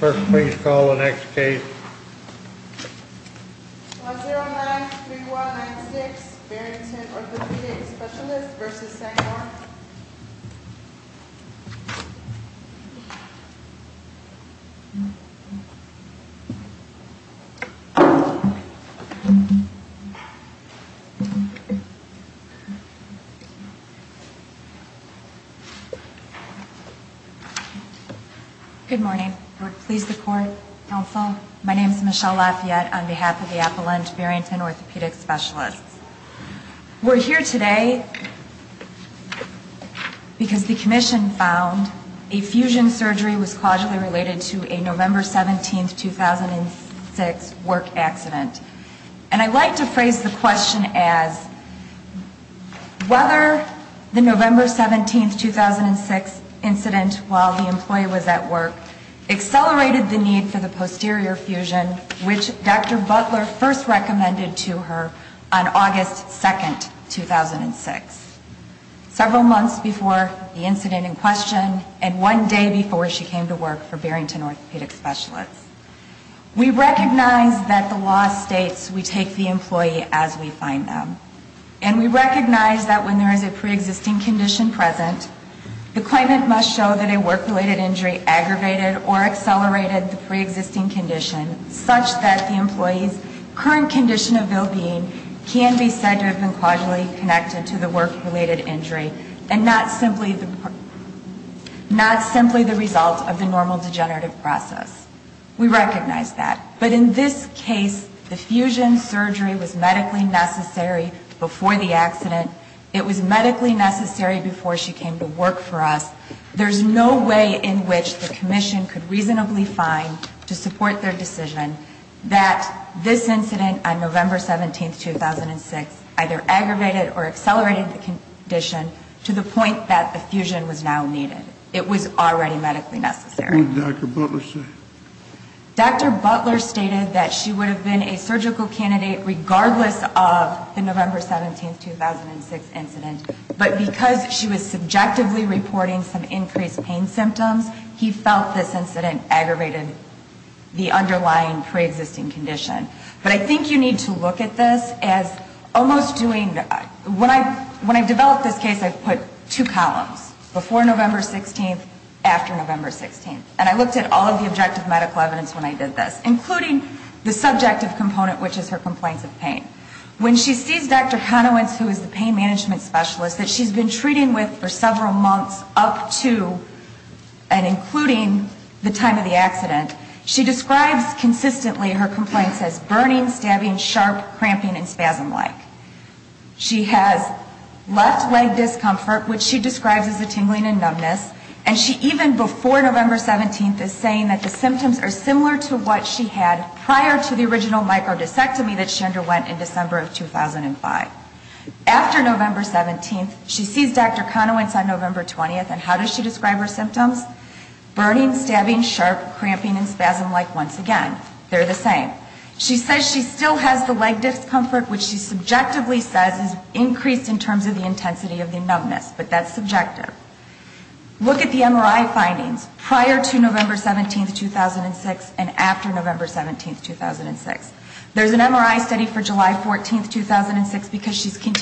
First, please call the next case. 109-3196 Barrington Orthopedic Specialists v. Sandor Good morning. Please support counsel. My name is Michelle Lafayette on behalf of the Appalachian Barrington Orthopedic Specialists. We're here today because the commission found a fusion surgery was causally related to a November 17, 2006, work accident. And I'd like to phrase the question as whether the November 17, 2006, incident while the employee was at work accelerated the need for the pre-existing condition. We recognize that when there is a pre-existing condition present, the claimant must show that a work-related injury aggravated or accelerated the pre-existing condition such that the employee's current condition of well-being can be seen to be connected to the work-related injury and not simply the result of the normal degenerative process. We recognize that. But in this case, the fusion surgery was medically necessary before the accident. It was medically necessary before she came to work for us. There's no way in which the commission could reasonably find to support their decision that this incident on November 17, 2006, either aggravated or accelerated the condition to the point that the fusion was now needed. It was already medically necessary. What did Dr. Butler say? Dr. Butler stated that she would have been a surgical candidate regardless of the November 17, 2006, incident. But because she was subjectively reporting some increased pain symptoms, he felt this incident aggravated the underlying pre-existing condition. But I think you need to look at this as almost doing, when I developed this case, I put two columns, before November 16th, after November 16th. And I looked at all of the objective medical evidence when I did this, including the subjective component, which is her complaints of pain. When she sees Dr. Conowentz, who has been reporting her complaints up to and including the time of the accident, she describes consistently her complaints as burning, stabbing, sharp, cramping and spasm-like. She has left leg discomfort, which she describes as a tingling and numbness. And she even before November 17th is saying that the symptoms are similar to what she had prior to the original microdiscectomy that she underwent in December of 2005. After November 17th, she sees Dr. Conowentz on November 20th. And how does she describe her symptoms? Burning, stabbing, sharp, cramping and spasm-like once again. They're the same. She says she still has the leg discomfort, which she subjectively says is increased in terms of the intensity of the numbness. But that's subjective. Look at the MRI findings prior to November 17th, 2006 and after November 17th, 2006. There's an MRI study for July 14th, 2006, because she's in the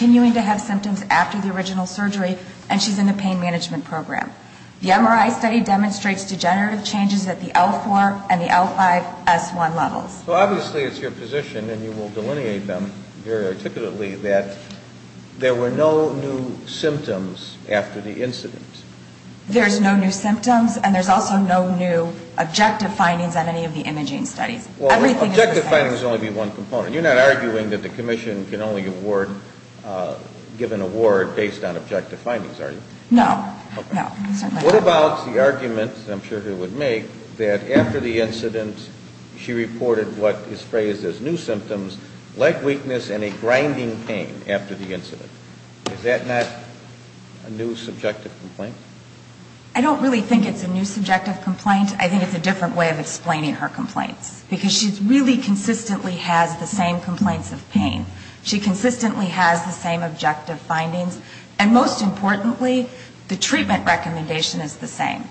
pain management program. The MRI study demonstrates degenerative changes at the L4 and the L5 S1 levels. So obviously it's your position, and you will delineate them very articulately, that there were no new symptoms after the incident. There's no new symptoms. And there's also no new objective findings on any of the imaging studies. Everything is the same. You're not arguing that the commission can only award, give an award based on objective findings, are you? No. No. What about the argument, I'm sure you would make, that after the incident, she reported what is phrased as new symptoms, leg weakness and a grinding pain after the incident. Is that not a new subjective complaint? I don't really think it's a new subjective complaint. I think it's a different way of explaining her complaints. Because she really consistently has the same complaints of pain. She consistently has the same objective findings. And most importantly, the treatment recommendation is the same.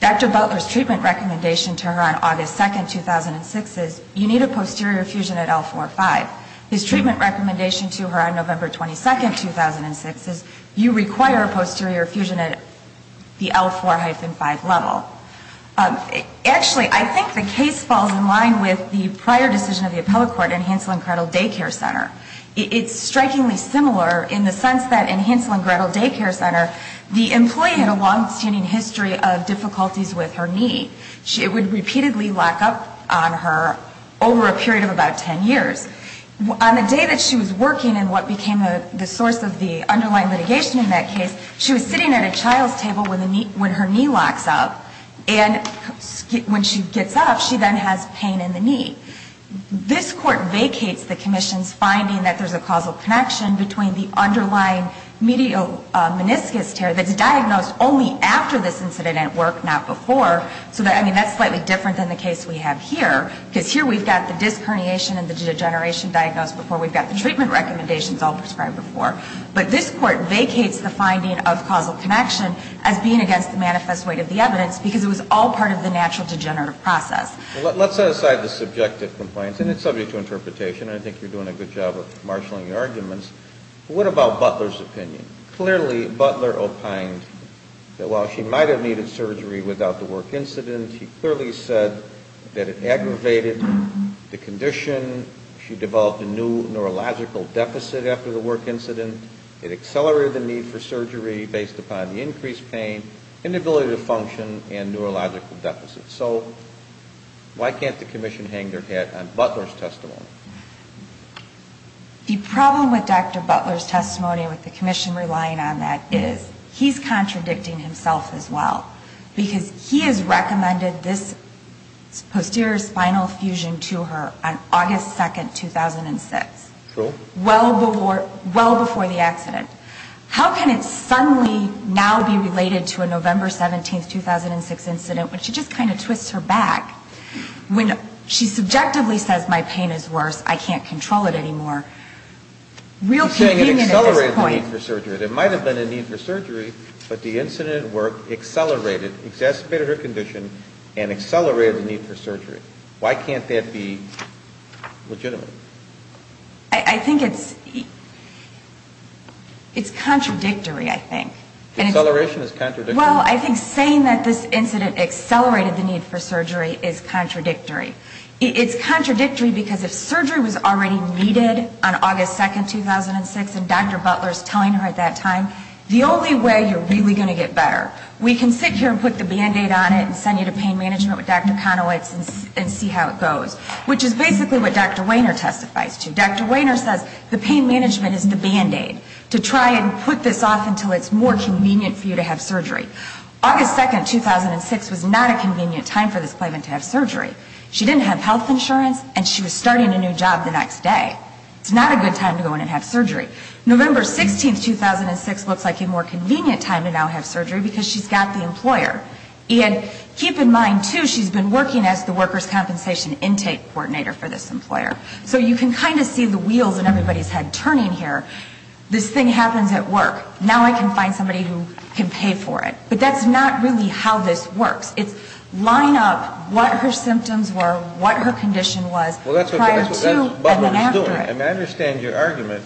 Dr. Butler's treatment recommendation to her on August 2nd, 2006 is you need a posterior fusion at L4-5. His treatment recommendation to her on August 2nd, it's the L4-5 level. Actually, I think the case falls in line with the prior decision of the Appellate Court in Hansel and Gretel Day Care Center. It's strikingly similar in the sense that in Hansel and Gretel Day Care Center, the employee had a longstanding issue of difficulties with her knee. It would repeatedly lock up on her over a period of about 10 years. On the day that she was working in what became the source of the underlying litigation in that case, she was sitting at a child's table when her knee locks up, and when she gets up, she then has pain in the knee. This Court vacates the Commission's finding that there's a causal connection between the underlying medial meniscus tear that's diagnosed only after this incident at work, not before. So, I mean, that's slightly different than the case we have here, because here we've got the disc herniation and the degeneration diagnosed before. We've got the treatment recommendations all prescribed before. But this Court vacates the finding of causal connection as being against the manifest weight of the evidence, because it was all part of the natural degenerative process. Let's set aside the subjective compliance, and it's subject to interpretation, and I think you're doing a good job of marshaling your arguments. What about Butler's opinion? Clearly, Butler opined that while she might have needed surgery without the work incident, he clearly said that it aggravated the condition, she developed a new neurological deficit after the work incident, it accelerated the need for surgery based upon the increased pain, inability to function, and neurological deficit. So why can't the Commission hang their hat on Butler's testimony? The problem with Dr. Butler's testimony, with the Commission relying on that, is he's contradicting himself as well, because he has recommended this posterior spinal fusion to her on August 2nd, 2006. True. Well before the accident. How can it suddenly now be related to a November 17th, 2006 incident when she just kind of twists her back, when she subjectively says my pain is worse, I can't control it anymore? She's saying it accelerated the need for surgery. It might have been a need for surgery, but the incident accelerated, exacerbated her condition, and accelerated the need for surgery. Why can't that be legitimate? I think it's contradictory, I think. Acceleration is contradictory? Well, I think saying that this incident accelerated the need for surgery is contradictory. It's contradictory because if surgery was already needed on August 2nd, 2006, and Dr. Butler's telling her at that time, the only way you're really going to get better, we can sit here and put the Band-Aid on it and send you to pain management with Dr. Conowitz and see how it goes, which is basically what Dr. Wehner testifies to. Dr. August 2nd, 2006 was not a convenient time for this claimant to have surgery. She didn't have health insurance and she was starting a new job the next day. It's not a good time to go in and have surgery. November 16th, 2006 looks like a more convenient time to now have surgery because she's got the employer. And keep in mind, too, she's been working as the workers' compensation intake coordinator for this employer. So you can kind of see the wheels in everybody's head turning here. This thing happens at work. Now I can find somebody who can pay for it. But that's not really how this works. It's line up what her symptoms were, what her condition was prior to and then after it. Well, that's what Dr. Butler was doing. And I understand your argument.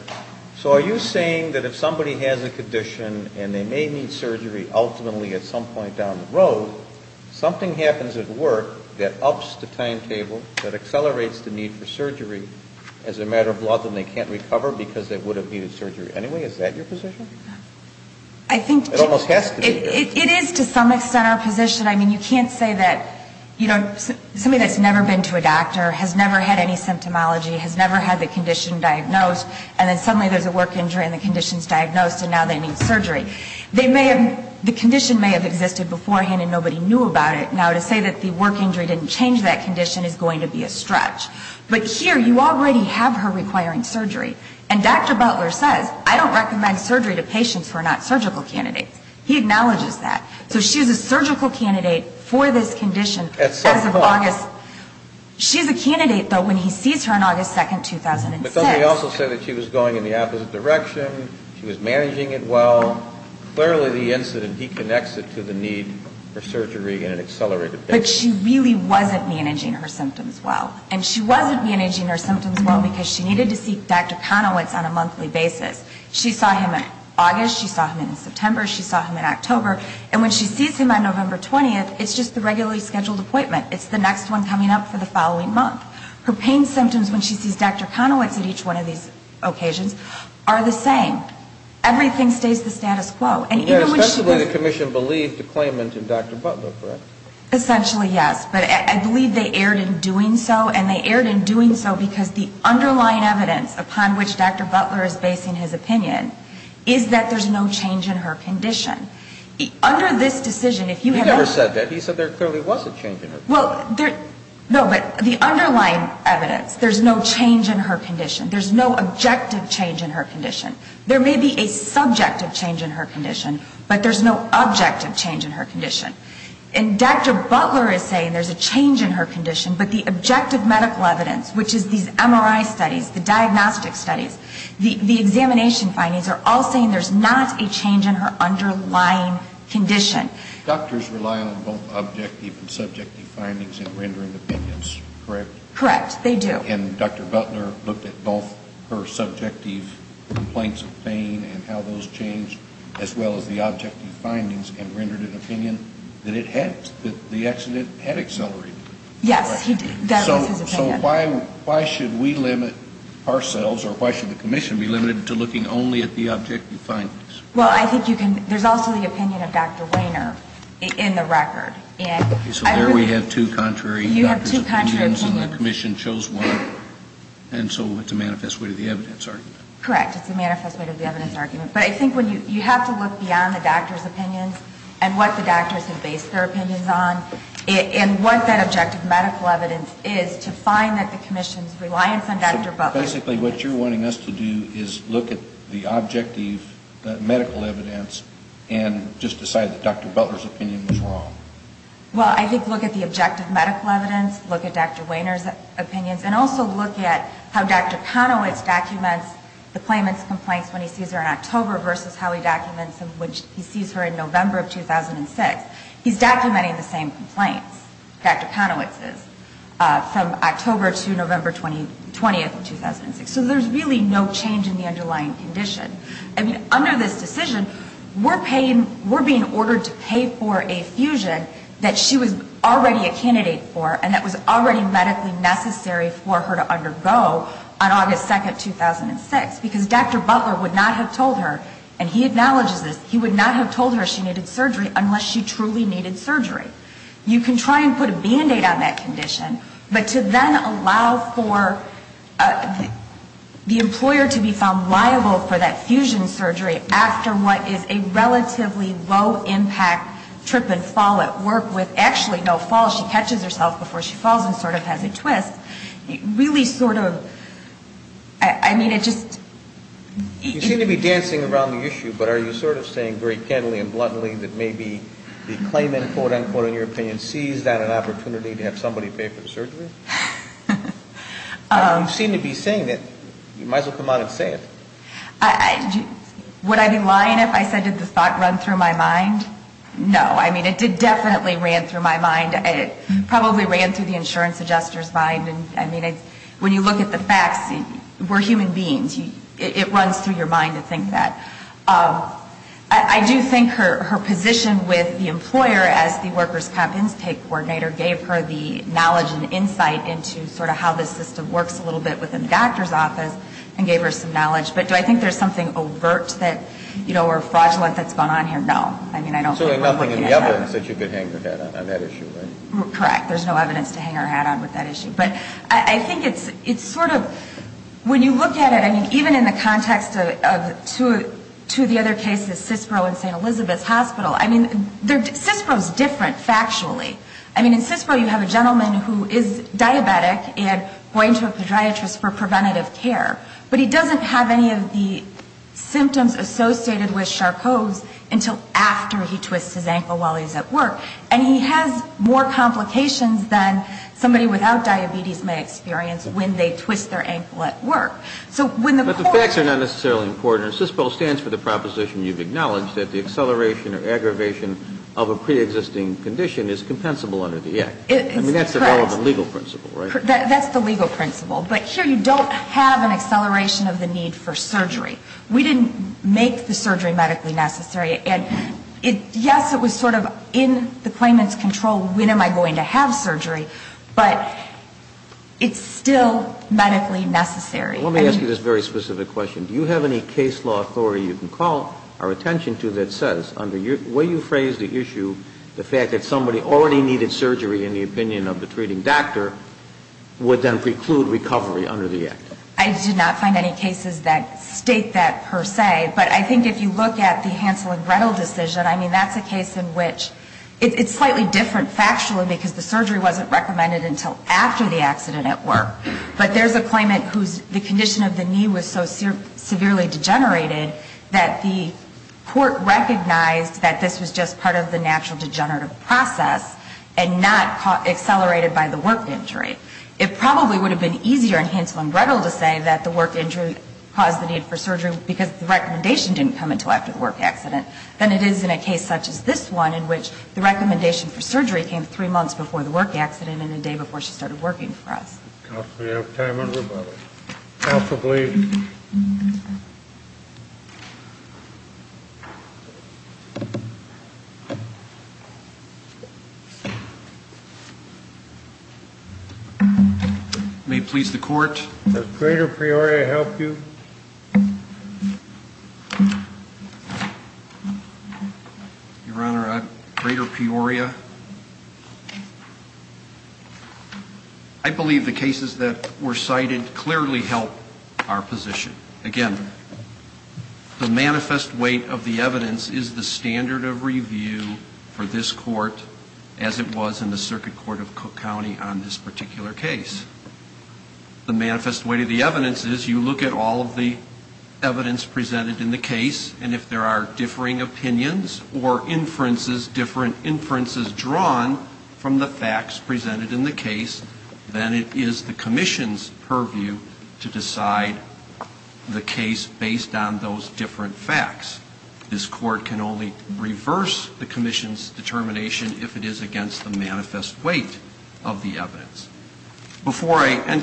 So are you saying that if somebody has a condition and they may need surgery ultimately at some point down the road, something happens at work that ups the timetable, that accelerates the need for surgery as a matter of law, then they can't recover because they would have needed surgery anyway? Is that your position? I think it is to some extent our position. I mean, you can't say that, you know, somebody that's never been to a doctor, has never had any symptomology, has never had the condition diagnosed, and then suddenly there's a work injury and the condition's diagnosed and now they need surgery. They may have, the condition may have existed beforehand and nobody knew about it. Now to say that the work injury didn't change that and Dr. Butler says, I don't recommend surgery to patients who are not surgical candidates. He acknowledges that. So she's a surgical candidate for this condition. At some point. As of August. She's a candidate, though, when he sees her on August 2nd, 2006. But don't they also say that she was going in the opposite direction, she was managing it well. Clearly the incident, he connects it to the need for surgery in an accelerated basis. But she really wasn't managing her symptoms well. And she wasn't managing her symptoms well because she needed to see Dr. Conowitz on a monthly basis. She saw him in August, she saw him in September, she saw him in October. And when she sees him on November 20th, it's just the regularly scheduled appointment. It's the next one coming up for the following month. Her pain symptoms when she sees Dr. Conowitz at each one of these occasions are the same. Everything stays the status quo. Especially the commission believed the claimant in Dr. Butler, correct? Essentially, yes. But I believe they erred in doing so. And they erred in doing so because the underlying evidence upon which Dr. Butler is basing his opinion is that there's no change in her condition. Under this decision, if you have ever He never said that. He said there clearly was a change in her condition. No, but the underlying evidence, there's no change in her condition. There's no objective change in her condition. There may be a subjective change in her condition, but there's no objective change in her condition. And Dr. Butler is saying there's a change in her condition, but the objective medical evidence, which is these MRI studies, the diagnostic studies, the examination findings are all saying there's not a change in her underlying condition. Doctors rely on both objective and subjective findings in rendering opinions, correct? Correct. They do. And Dr. Butler looked at both her subjective complaints of pain and how those changed, as well as the objective findings, and rendered an opinion that it had, that the accident had accelerated. Yes, he did. That was his opinion. So why should we limit ourselves, or why should the commission be limited to looking only at the objective findings? Well, I think you can, there's also the opinion of Dr. Wehner in the record. So there we have two contrary doctor's opinions and the commission chose one, and so it's a manifest way to the evidence argument. Correct. It's a manifest way to the evidence argument. But I think you have to look beyond the doctor's opinions and what the doctors have based their opinions on, and what that objective medical evidence is to find that the commission's reliance on Dr. Butler. So basically what you're wanting us to do is look at the objective medical evidence and just decide that Dr. Butler's opinion was wrong. Well, I think look at the objective medical evidence, look at Dr. Wehner's opinions, and also look at how Dr. Conowitz documents the claimant's complaints when he sees her in October versus how he documents when he sees her in November of 2006. He's documenting the same complaints, Dr. Conowitz's, from October to November 20th of 2006. So there's really no change in the underlying condition. I mean, under this decision, we're paying, we're being ordered to pay for a fusion that she was already a candidate for and that was already medically necessary for her to undergo on August 2nd, 2006, because Dr. Butler would not have told her, and he acknowledges this, he would not have told her she needed surgery unless she truly needed surgery. You can try and put a Band-Aid on that condition, but to then allow for the fusion surgery after what is a relatively low-impact trip and fall at work, with actually no fall, she catches herself before she falls and sort of has a twist, really sort of, I mean, it just... You seem to be dancing around the issue, but are you sort of saying very candidly and bluntly that maybe the claimant, quote, unquote, in your opinion, sees that an opportunity to have somebody pay for the surgery? You seem to be saying that, you might as well come out and say it. Would I be lying if I said did the thought run through my mind? No. I mean, it definitely ran through my mind. It probably ran through the insurance adjuster's mind. I mean, when you look at the facts, we're human beings. It runs through your mind to think that. I do think her position with the employer as the workers' comp intake coordinator gave her the knowledge and insight into sort of how the system works a little bit within the doctor's office and gave her some knowledge, but do I think there's something overt that, you know, or fraudulent that's gone on here? No. I mean, I don't think... So there's nothing in the evidence that you could hang your head on that issue, right? Correct. There's no evidence to hang her head on with that issue, but I think it's sort of, when you look at it, I mean, even in the context of two of the other cases, Cispro and St. Elizabeth's Hospital, I mean, Cispro's different factually. I mean, in Cispro you have a gentleman who is diabetic and going to a podiatrist for preventative care, but he doesn't have any of the symptoms associated with Charcot's until after he twists his ankle while he's at work. And he has more complications than somebody without diabetes may experience when they twist their ankle at work. So when the court... But the facts are not necessarily important. Cispro stands for the proposition you've acknowledged, that the acceleration or aggravation of a need for surgery. We didn't make the surgery medically necessary. And, yes, it was sort of in the claimant's control, when am I going to have surgery, but it's still medically necessary. Let me ask you this very specific question. Do you have any case law authority you can call our attention to that says, under the way you phrase the issue, the fact that somebody already needed surgery, in the opinion of the treating doctor, would then put the patient in preclude recovery under the act? I did not find any cases that state that per se. But I think if you look at the Hansel and Gretel decision, I mean, that's a case in which it's slightly different factually, because the surgery wasn't recommended until after the accident at work. But there's a claimant whose condition of the knee was so severely degenerated that the court recognized that this was just part of the natural degenerative process and not accelerated by the work injury. It probably would have been easier in Hansel and Gretel to say that the work injury caused the need for surgery, because the recommendation didn't come until after the work accident, than it is in a case such as this one, in which the recommendation for surgery came three months before the work accident and the day before she started working for us. Possibly out of time, everybody. Possibly. May it please the court. Does greater Peoria help you? Your Honor, greater Peoria. I believe the cases that were cited clearly help our position. Again, the manifest weight of the evidence is the standard of review for this court as it was in the Circuit Court of Cook County on this particular case. The manifest weight of the evidence is you look at all of the evidence presented in the case, and if there are differing opinions or inferences, different inferences drawn from the facts presented in the case, then it is the commission's purview to decide the case based on those different facts. This court can only reverse the commission's determination if it is against the manifest weight of the evidence. Before I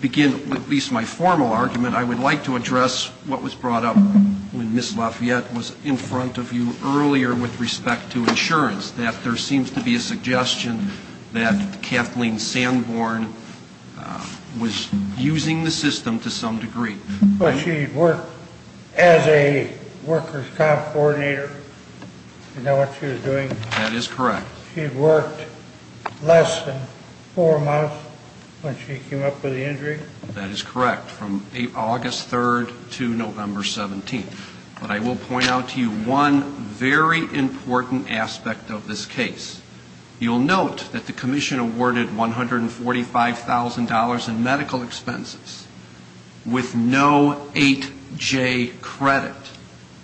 begin at least my formal argument, I would like to address what was brought up when Ms. Lafayette was in front of you earlier with respect to insurance, that there seems to be a suggestion that Kathleen Sanborn was using the system to some degree. Well, she worked as a workers' comp coordinator. Do you know what she was doing? That is correct. She worked less than four months when she came up with the injury? That is correct, from August 3rd to November 17th. But I will point out to you one very important aspect of this case. You'll note that the commission awarded $145,000 in medical expenses with no insurance. That is correct. No 8-J credit.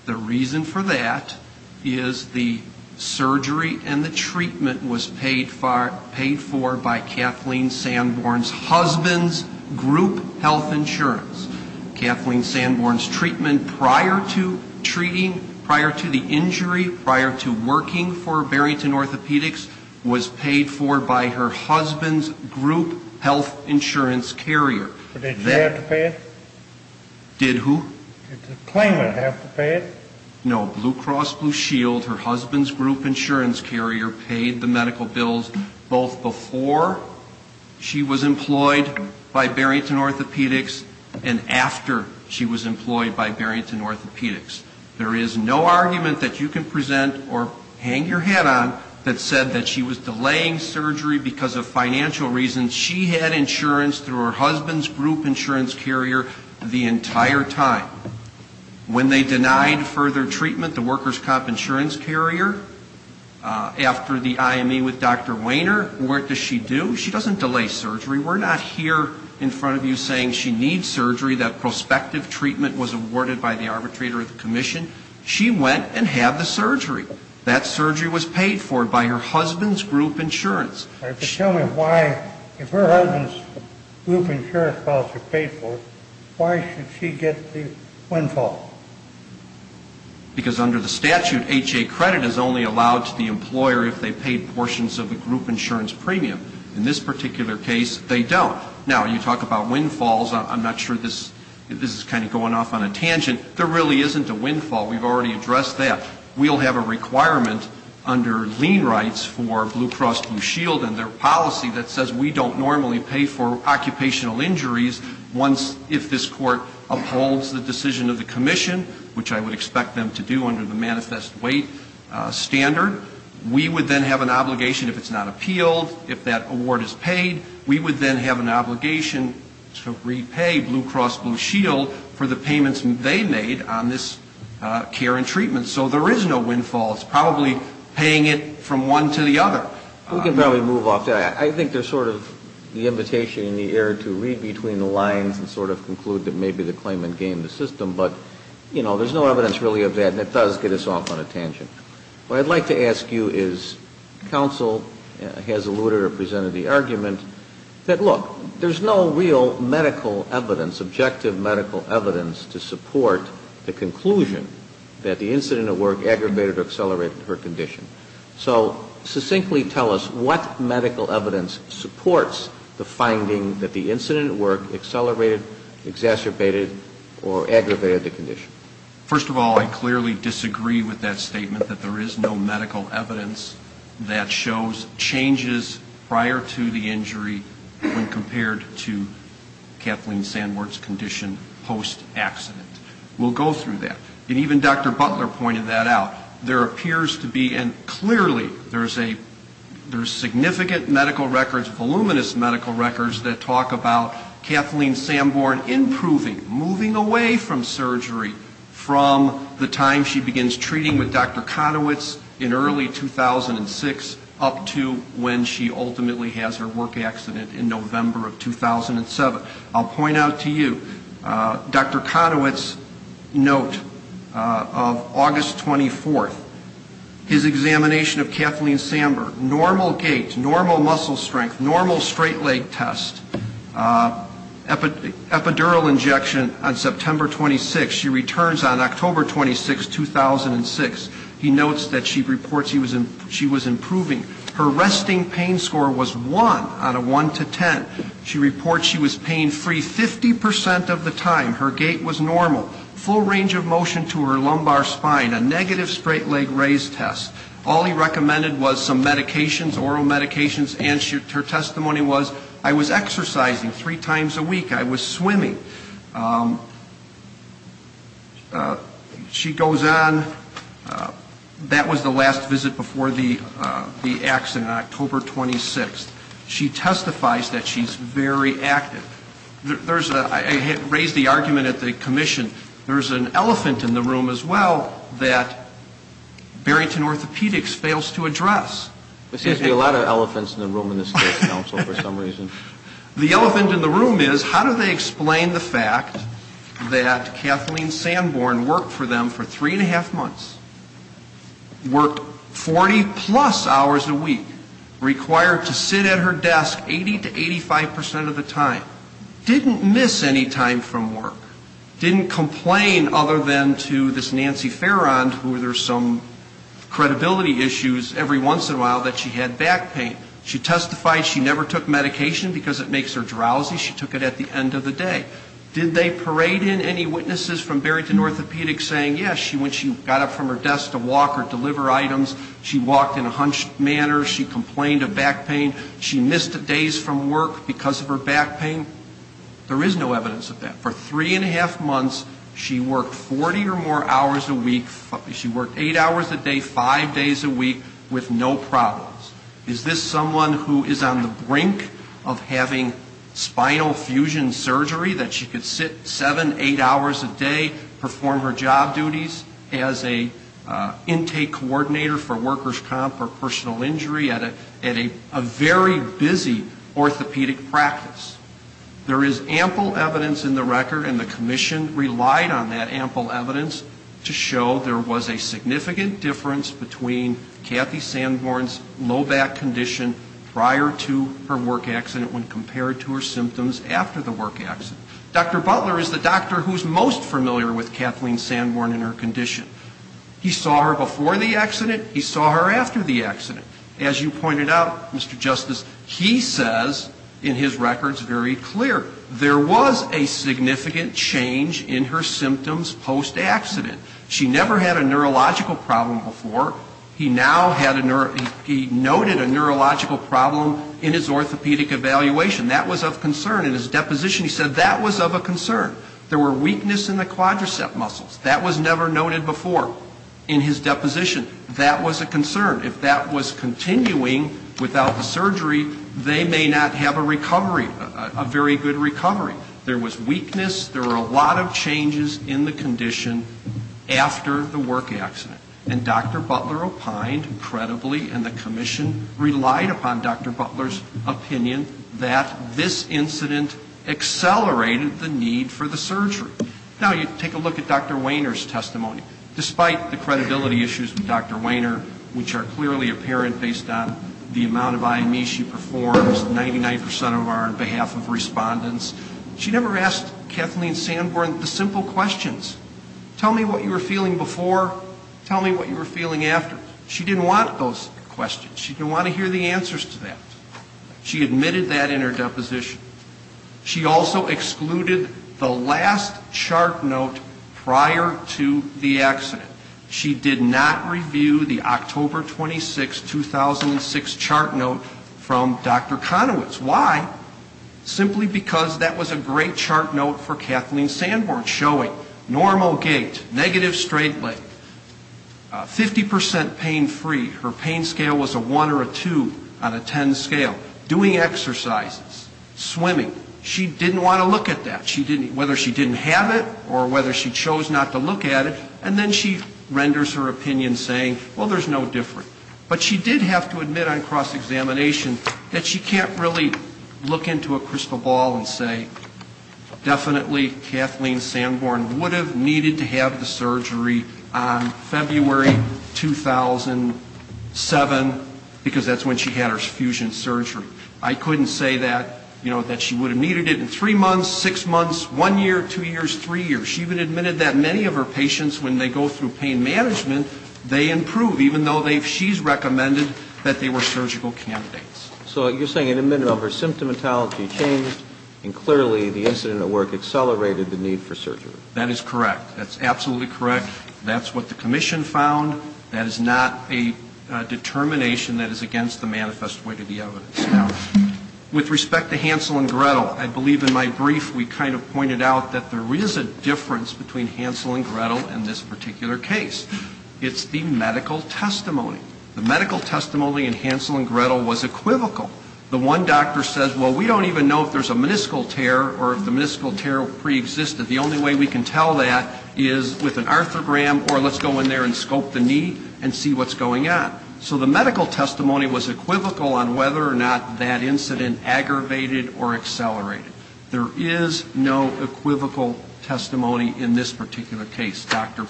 The reason for that is the surgery and the treatment was paid for by Kathleen Sanborn's husband's group health insurance. Kathleen Sanborn's treatment prior to treating, prior to the injury, prior to working for Barrington Orthopedics was paid for by her husband's group health insurance carrier. But did she have to pay it? Did who? Did Kathleen have to pay it? No. Blue Cross Blue Shield, her husband's group insurance carrier, paid the medical bills both before she was employed by Barrington Orthopedics and after she was employed by Barrington Orthopedics. There is no argument that you can present or hang your hat on that said that she was delaying surgery because of financial reasons. She had insurance through her husband's group insurance carrier the entire time. When they denied further treatment, the workers' comp insurance carrier, after the IME with Dr. Wainer, what does she do? She doesn't delay surgery. We're not here in front of you saying she needs surgery, that prospective treatment was awarded by the arbitrator of the commission. She went and had the surgery. That surgery was paid for by her husband's group insurance. All right, but tell me why, if her husband's group insurance bills are paid for, why should she get the windfall? Because under the statute, HA credit is only allowed to the employer if they've paid portions of the group insurance premium. In this particular case, they don't. Now, you talk about windfalls, I'm not sure this is kind of going off on a tangent, there really isn't a windfall. We've already addressed that. We'll have a requirement under lien rights for Blue Cross Blue Shield and their policy that says we don't normally pay for occupational injuries once if this court upholds the decision of the commission, which I would expect them to do under the manifest weight standard. We would then have an obligation if it's not appealed, if that award is paid, we would then have an obligation to repay Blue Cross Blue Shield for the payments they made on this particular case. So there is no windfall, it's probably paying it from one to the other. We can probably move off that. I think there's sort of the invitation in the air to read between the lines and sort of conclude that maybe the claimant gamed the system, but, you know, there's no evidence really of that, and it does get us off on a tangent. What I'd like to ask you is, counsel has alluded or presented the argument that, look, there's no real medical evidence, objective medical evidence to support the conclusion of the claimant's claim. That the incident at work aggravated or accelerated her condition. So succinctly tell us what medical evidence supports the finding that the incident at work accelerated, exacerbated, or aggravated the condition. First of all, I clearly disagree with that statement that there is no medical evidence that shows changes prior to the injury when compared to Kathleen Sandworth's condition post-accident. We'll go through that. And even Dr. Butler pointed that out. There appears to be, and clearly there's a, there's significant medical records, voluminous medical records that talk about Kathleen Sanborn improving, moving away from surgery from the time she begins treating with Dr. Conowitz in early 2006 up to when she ultimately has her work accident in November of 2007. I'll point out to you, Dr. Conowitz's note of August 24th, his examination of Kathleen Sanborn, normal gait, normal muscle strength, normal straight leg test, epidural injection on September 26. She returns on October 26, 2006. He notes that she reports she was improving. Her resting pain score was 1 out of 1 to 10. She reports she was pain free 50% of the time. Her gait was normal. Full range of motion to her lumbar spine. A negative straight leg raise test. All he recommended was some medications, oral medications, and her testimony was, I was exercising three times a week. I was swimming. She goes on, that was the last visit before the accident on October 26. She testifies that she's very active. There's a, I raised the argument at the commission, there's an elephant in the room as well that Barrington Orthopedics fails to address. There seems to be a lot of elephants in the room in this case, counsel, for some reason. The elephant in the room is, how do they explain the fact that Kathleen Sanborn worked for them for three and a half months, worked 40-plus hours a week, required to sit in a chair for three and a half months. She sat at her desk 80 to 85% of the time. Didn't miss any time from work. Didn't complain other than to this Nancy Farrand who there's some credibility issues every once in a while that she had back pain. She testified she never took medication because it makes her drowsy. She took it at the end of the day. Did they parade in any witnesses from Barrington Orthopedics saying, yes, she went, she got up from her desk to walk or deliver items. She walked in a hunched manner. She complained of back pain. She missed days from work because of her back pain. There is no evidence of that. For three and a half months, she worked 40 or more hours a week, she worked eight hours a day, five days a week with no problems. Is this someone who is on the brink of having spinal fusion surgery that she could sit seven, eight hours a day, perform her job duties as an intake coordinator for the hospital? She was not on the brink of having spinal fusion surgery that she could sit seven, eight hours a day, perform her job duties as an intake coordinator for the hospital? There is ample evidence in the record and the commission relied on that ample evidence to show there was a significant difference between Kathy Sanborn's low back condition prior to her work accident when compared to her symptoms after the work accident. Dr. Butler is the doctor who is most familiar with Kathleen Sanborn and her condition. He saw her before the accident. He saw her after the accident. As you pointed out, Mr. Justice, he says in his records very clear there was a significant change in her symptoms post-accident. She never had a neurological problem before. He noted a neurological problem in his orthopedic evaluation. That was of concern. In his deposition, he said that was of a concern. There was weakness in the quadricep muscles. That was never noted before in his deposition. That was a concern. If that was continuing without the surgery, they may not have a recovery, a very good recovery. There was weakness. There were a lot of changes in the condition after the work accident. And Dr. Butler opined credibly and the commission relied upon Dr. Butler's opinion that this incident accelerated the need for the surgery. Now you take a look at Dr. Wehner's testimony. Despite the credibility issues with Dr. Wehner, which are clearly apparent based on the amount of IME she performs, 99% of our behalf of respondents, she never asked Kathleen Sanborn the simple questions. Tell me what you were feeling before. Tell me what you were feeling after. She didn't want those questions. She didn't want to hear the answers to that. She admitted that in her deposition. She did not review the October 26, 2006 chart note from Dr. Conowitz. Why? Simply because that was a great chart note for Kathleen Sanborn, showing normal gait, negative straight leg, 50% pain-free, her pain scale was a 1 or a 2 on a 10 scale, doing exercises, swimming. She didn't want to look at that, whether she didn't have it or whether she chose not to look at it. And then she renders her opinion saying, well, there's no difference. But she did have to admit on cross-examination that she can't really look into a crystal ball and say, definitely Kathleen Sanborn would have needed to have the surgery on February 2007, because that's when she had her fusion surgery. I couldn't say that, you know, that she would have needed it in three months, six months, one year, two years, three years. She even admitted that many of her patients, when they go through pain management, they improve, even though she's recommended that they were surgical candidates. So you're saying in a minute of her symptomatology changed, and clearly the incident at work accelerated the need for surgery. That is correct. That's absolutely correct. That's what the commission found. That is not a determination that is against the manifest way to the evidence. With respect to Hansel and Gretel, I believe in my brief we kind of pointed out that there is a difference between Hansel and Gretel and this particular case. It's the medical testimony. The medical testimony in Hansel and Gretel was equivocal. The one doctor says, well, we don't even know if there's a meniscal tear or if the meniscal tear preexisted. The only way we can tell that is with an arthrogram or let's go in there and scope the knee and see what's going on. So the medical testimony was equivocal on whether or not that incident aggravated or accelerated. There is no equivocal testimony in this particular case. Dr.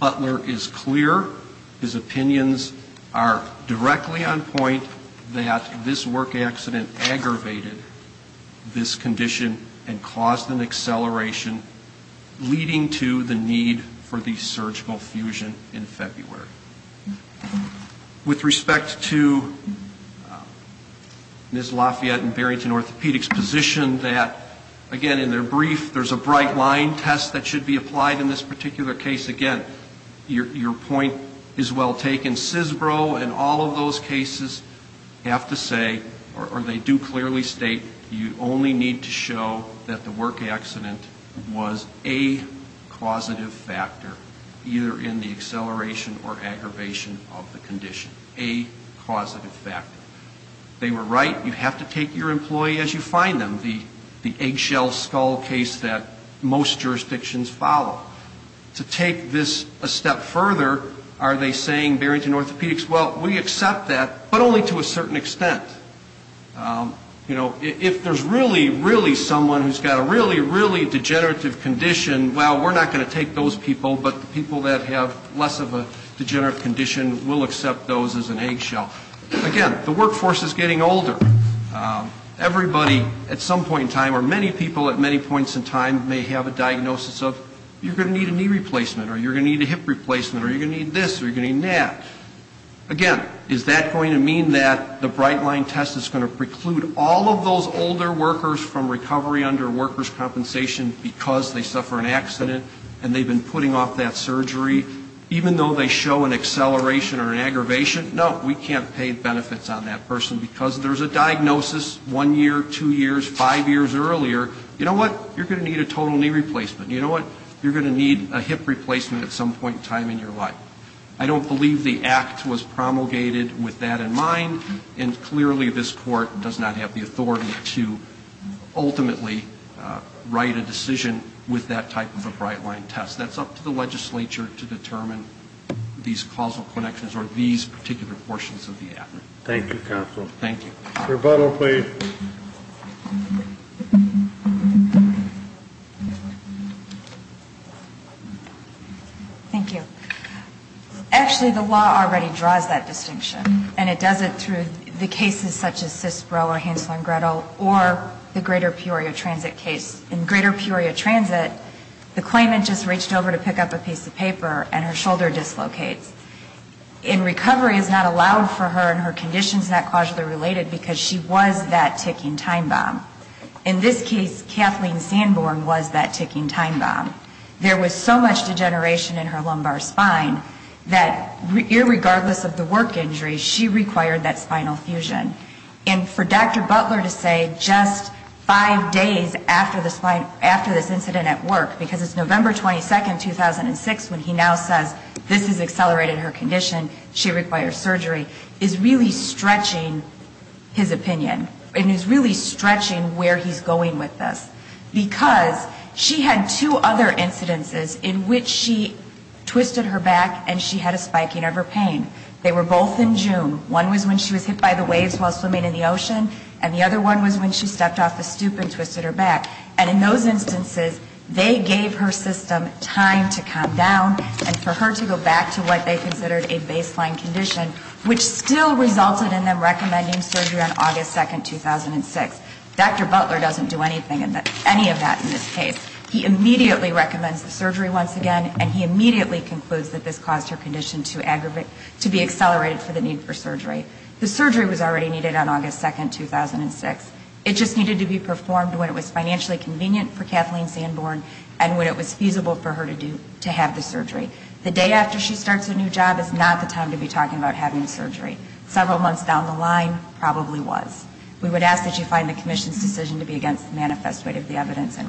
Butler is clear. His opinions are directly on point that this work accident aggravated this condition and caused an acceleration of the need for surgery. Leading to the need for the surgical fusion in February. With respect to Ms. Lafayette and Barrington Orthopedics' position that, again, in their brief, there's a bright line test that should be applied in this particular case. Again, your point is well taken. CISBRO and all of those cases have to say, or they do clearly state, you only need to show that the work accident was aggravated. A causative factor, either in the acceleration or aggravation of the condition. A causative factor. They were right. You have to take your employee as you find them, the eggshell skull case that most jurisdictions follow. To take this a step further, are they saying, Barrington Orthopedics, well, we accept that, but only to a certain extent. You know, if there's really, really someone who's got a really, really degenerative condition, well, we're not going to take those people, but the people that have less of a degenerative condition, we'll accept those as an eggshell. Again, the workforce is getting older. Everybody, at some point in time, or many people at many points in time, may have a diagnosis of, you're going to need a knee replacement, or you're going to need a hip replacement, or you're going to need this, or you're going to need that. Again, is that going to mean that the Brightline test is going to preclude all of those older workers from recovery under workers' compensation because they suffer an accident and they've been putting off that surgery, even though they show an acceleration or an aggravation? No, we can't pay benefits on that person because there's a diagnosis one year, two years, five years earlier, you know what, you're going to need a total knee replacement. You know what, you're going to need a hip replacement at some point in time in your life. So the act was promulgated with that in mind, and clearly this Court does not have the authority to ultimately write a decision with that type of a Brightline test. That's up to the legislature to determine these causal connections or these particular portions of the act. Thank you, counsel. Thank you. Actually, the law already draws that distinction, and it does it through the cases such as Sisbro or Hansel and Gretel or the Greater Peoria Transit case. In Greater Peoria Transit, the claimant just reached over to pick up a piece of paper and her shoulder dislocates. And recovery is not allowed for her and her conditions are not causally related because she was that ticking time bomb. In this case, Kathleen Sanborn was that ticking time bomb. There was so much degeneration in her lumbar spine that irregardless of the work injury, she required that spinal fusion. And for Dr. Butler to say just five days after the spine, after this incident at work, because it's November 22, 2006, when he now says this is because she accelerated her condition, she requires surgery, is really stretching his opinion and is really stretching where he's going with this, because she had two other incidences in which she twisted her back and she had a spiking of her pain. They were both in June. One was when she was hit by the waves while swimming in the ocean, and the other one was when she stepped off the stoop and twisted her back. And in those instances, they gave her system time to calm down and for her to go back to where she was, it was like they considered a baseline condition, which still resulted in them recommending surgery on August 2, 2006. Dr. Butler doesn't do anything, any of that in this case. He immediately recommends the surgery once again, and he immediately concludes that this caused her condition to aggravate, to be accelerated for the need for surgery. The surgery was already needed on August 2, 2006. It just needed to be performed when it was financially convenient for Kathleen Sanborn and when it was feasible for her to have the surgery. The day after she starts a new job is not the time to be talking about having surgery. Several months down the line, probably was. We would ask that you find the Commission's decision to be against the manifest way of the evidence and reverse it.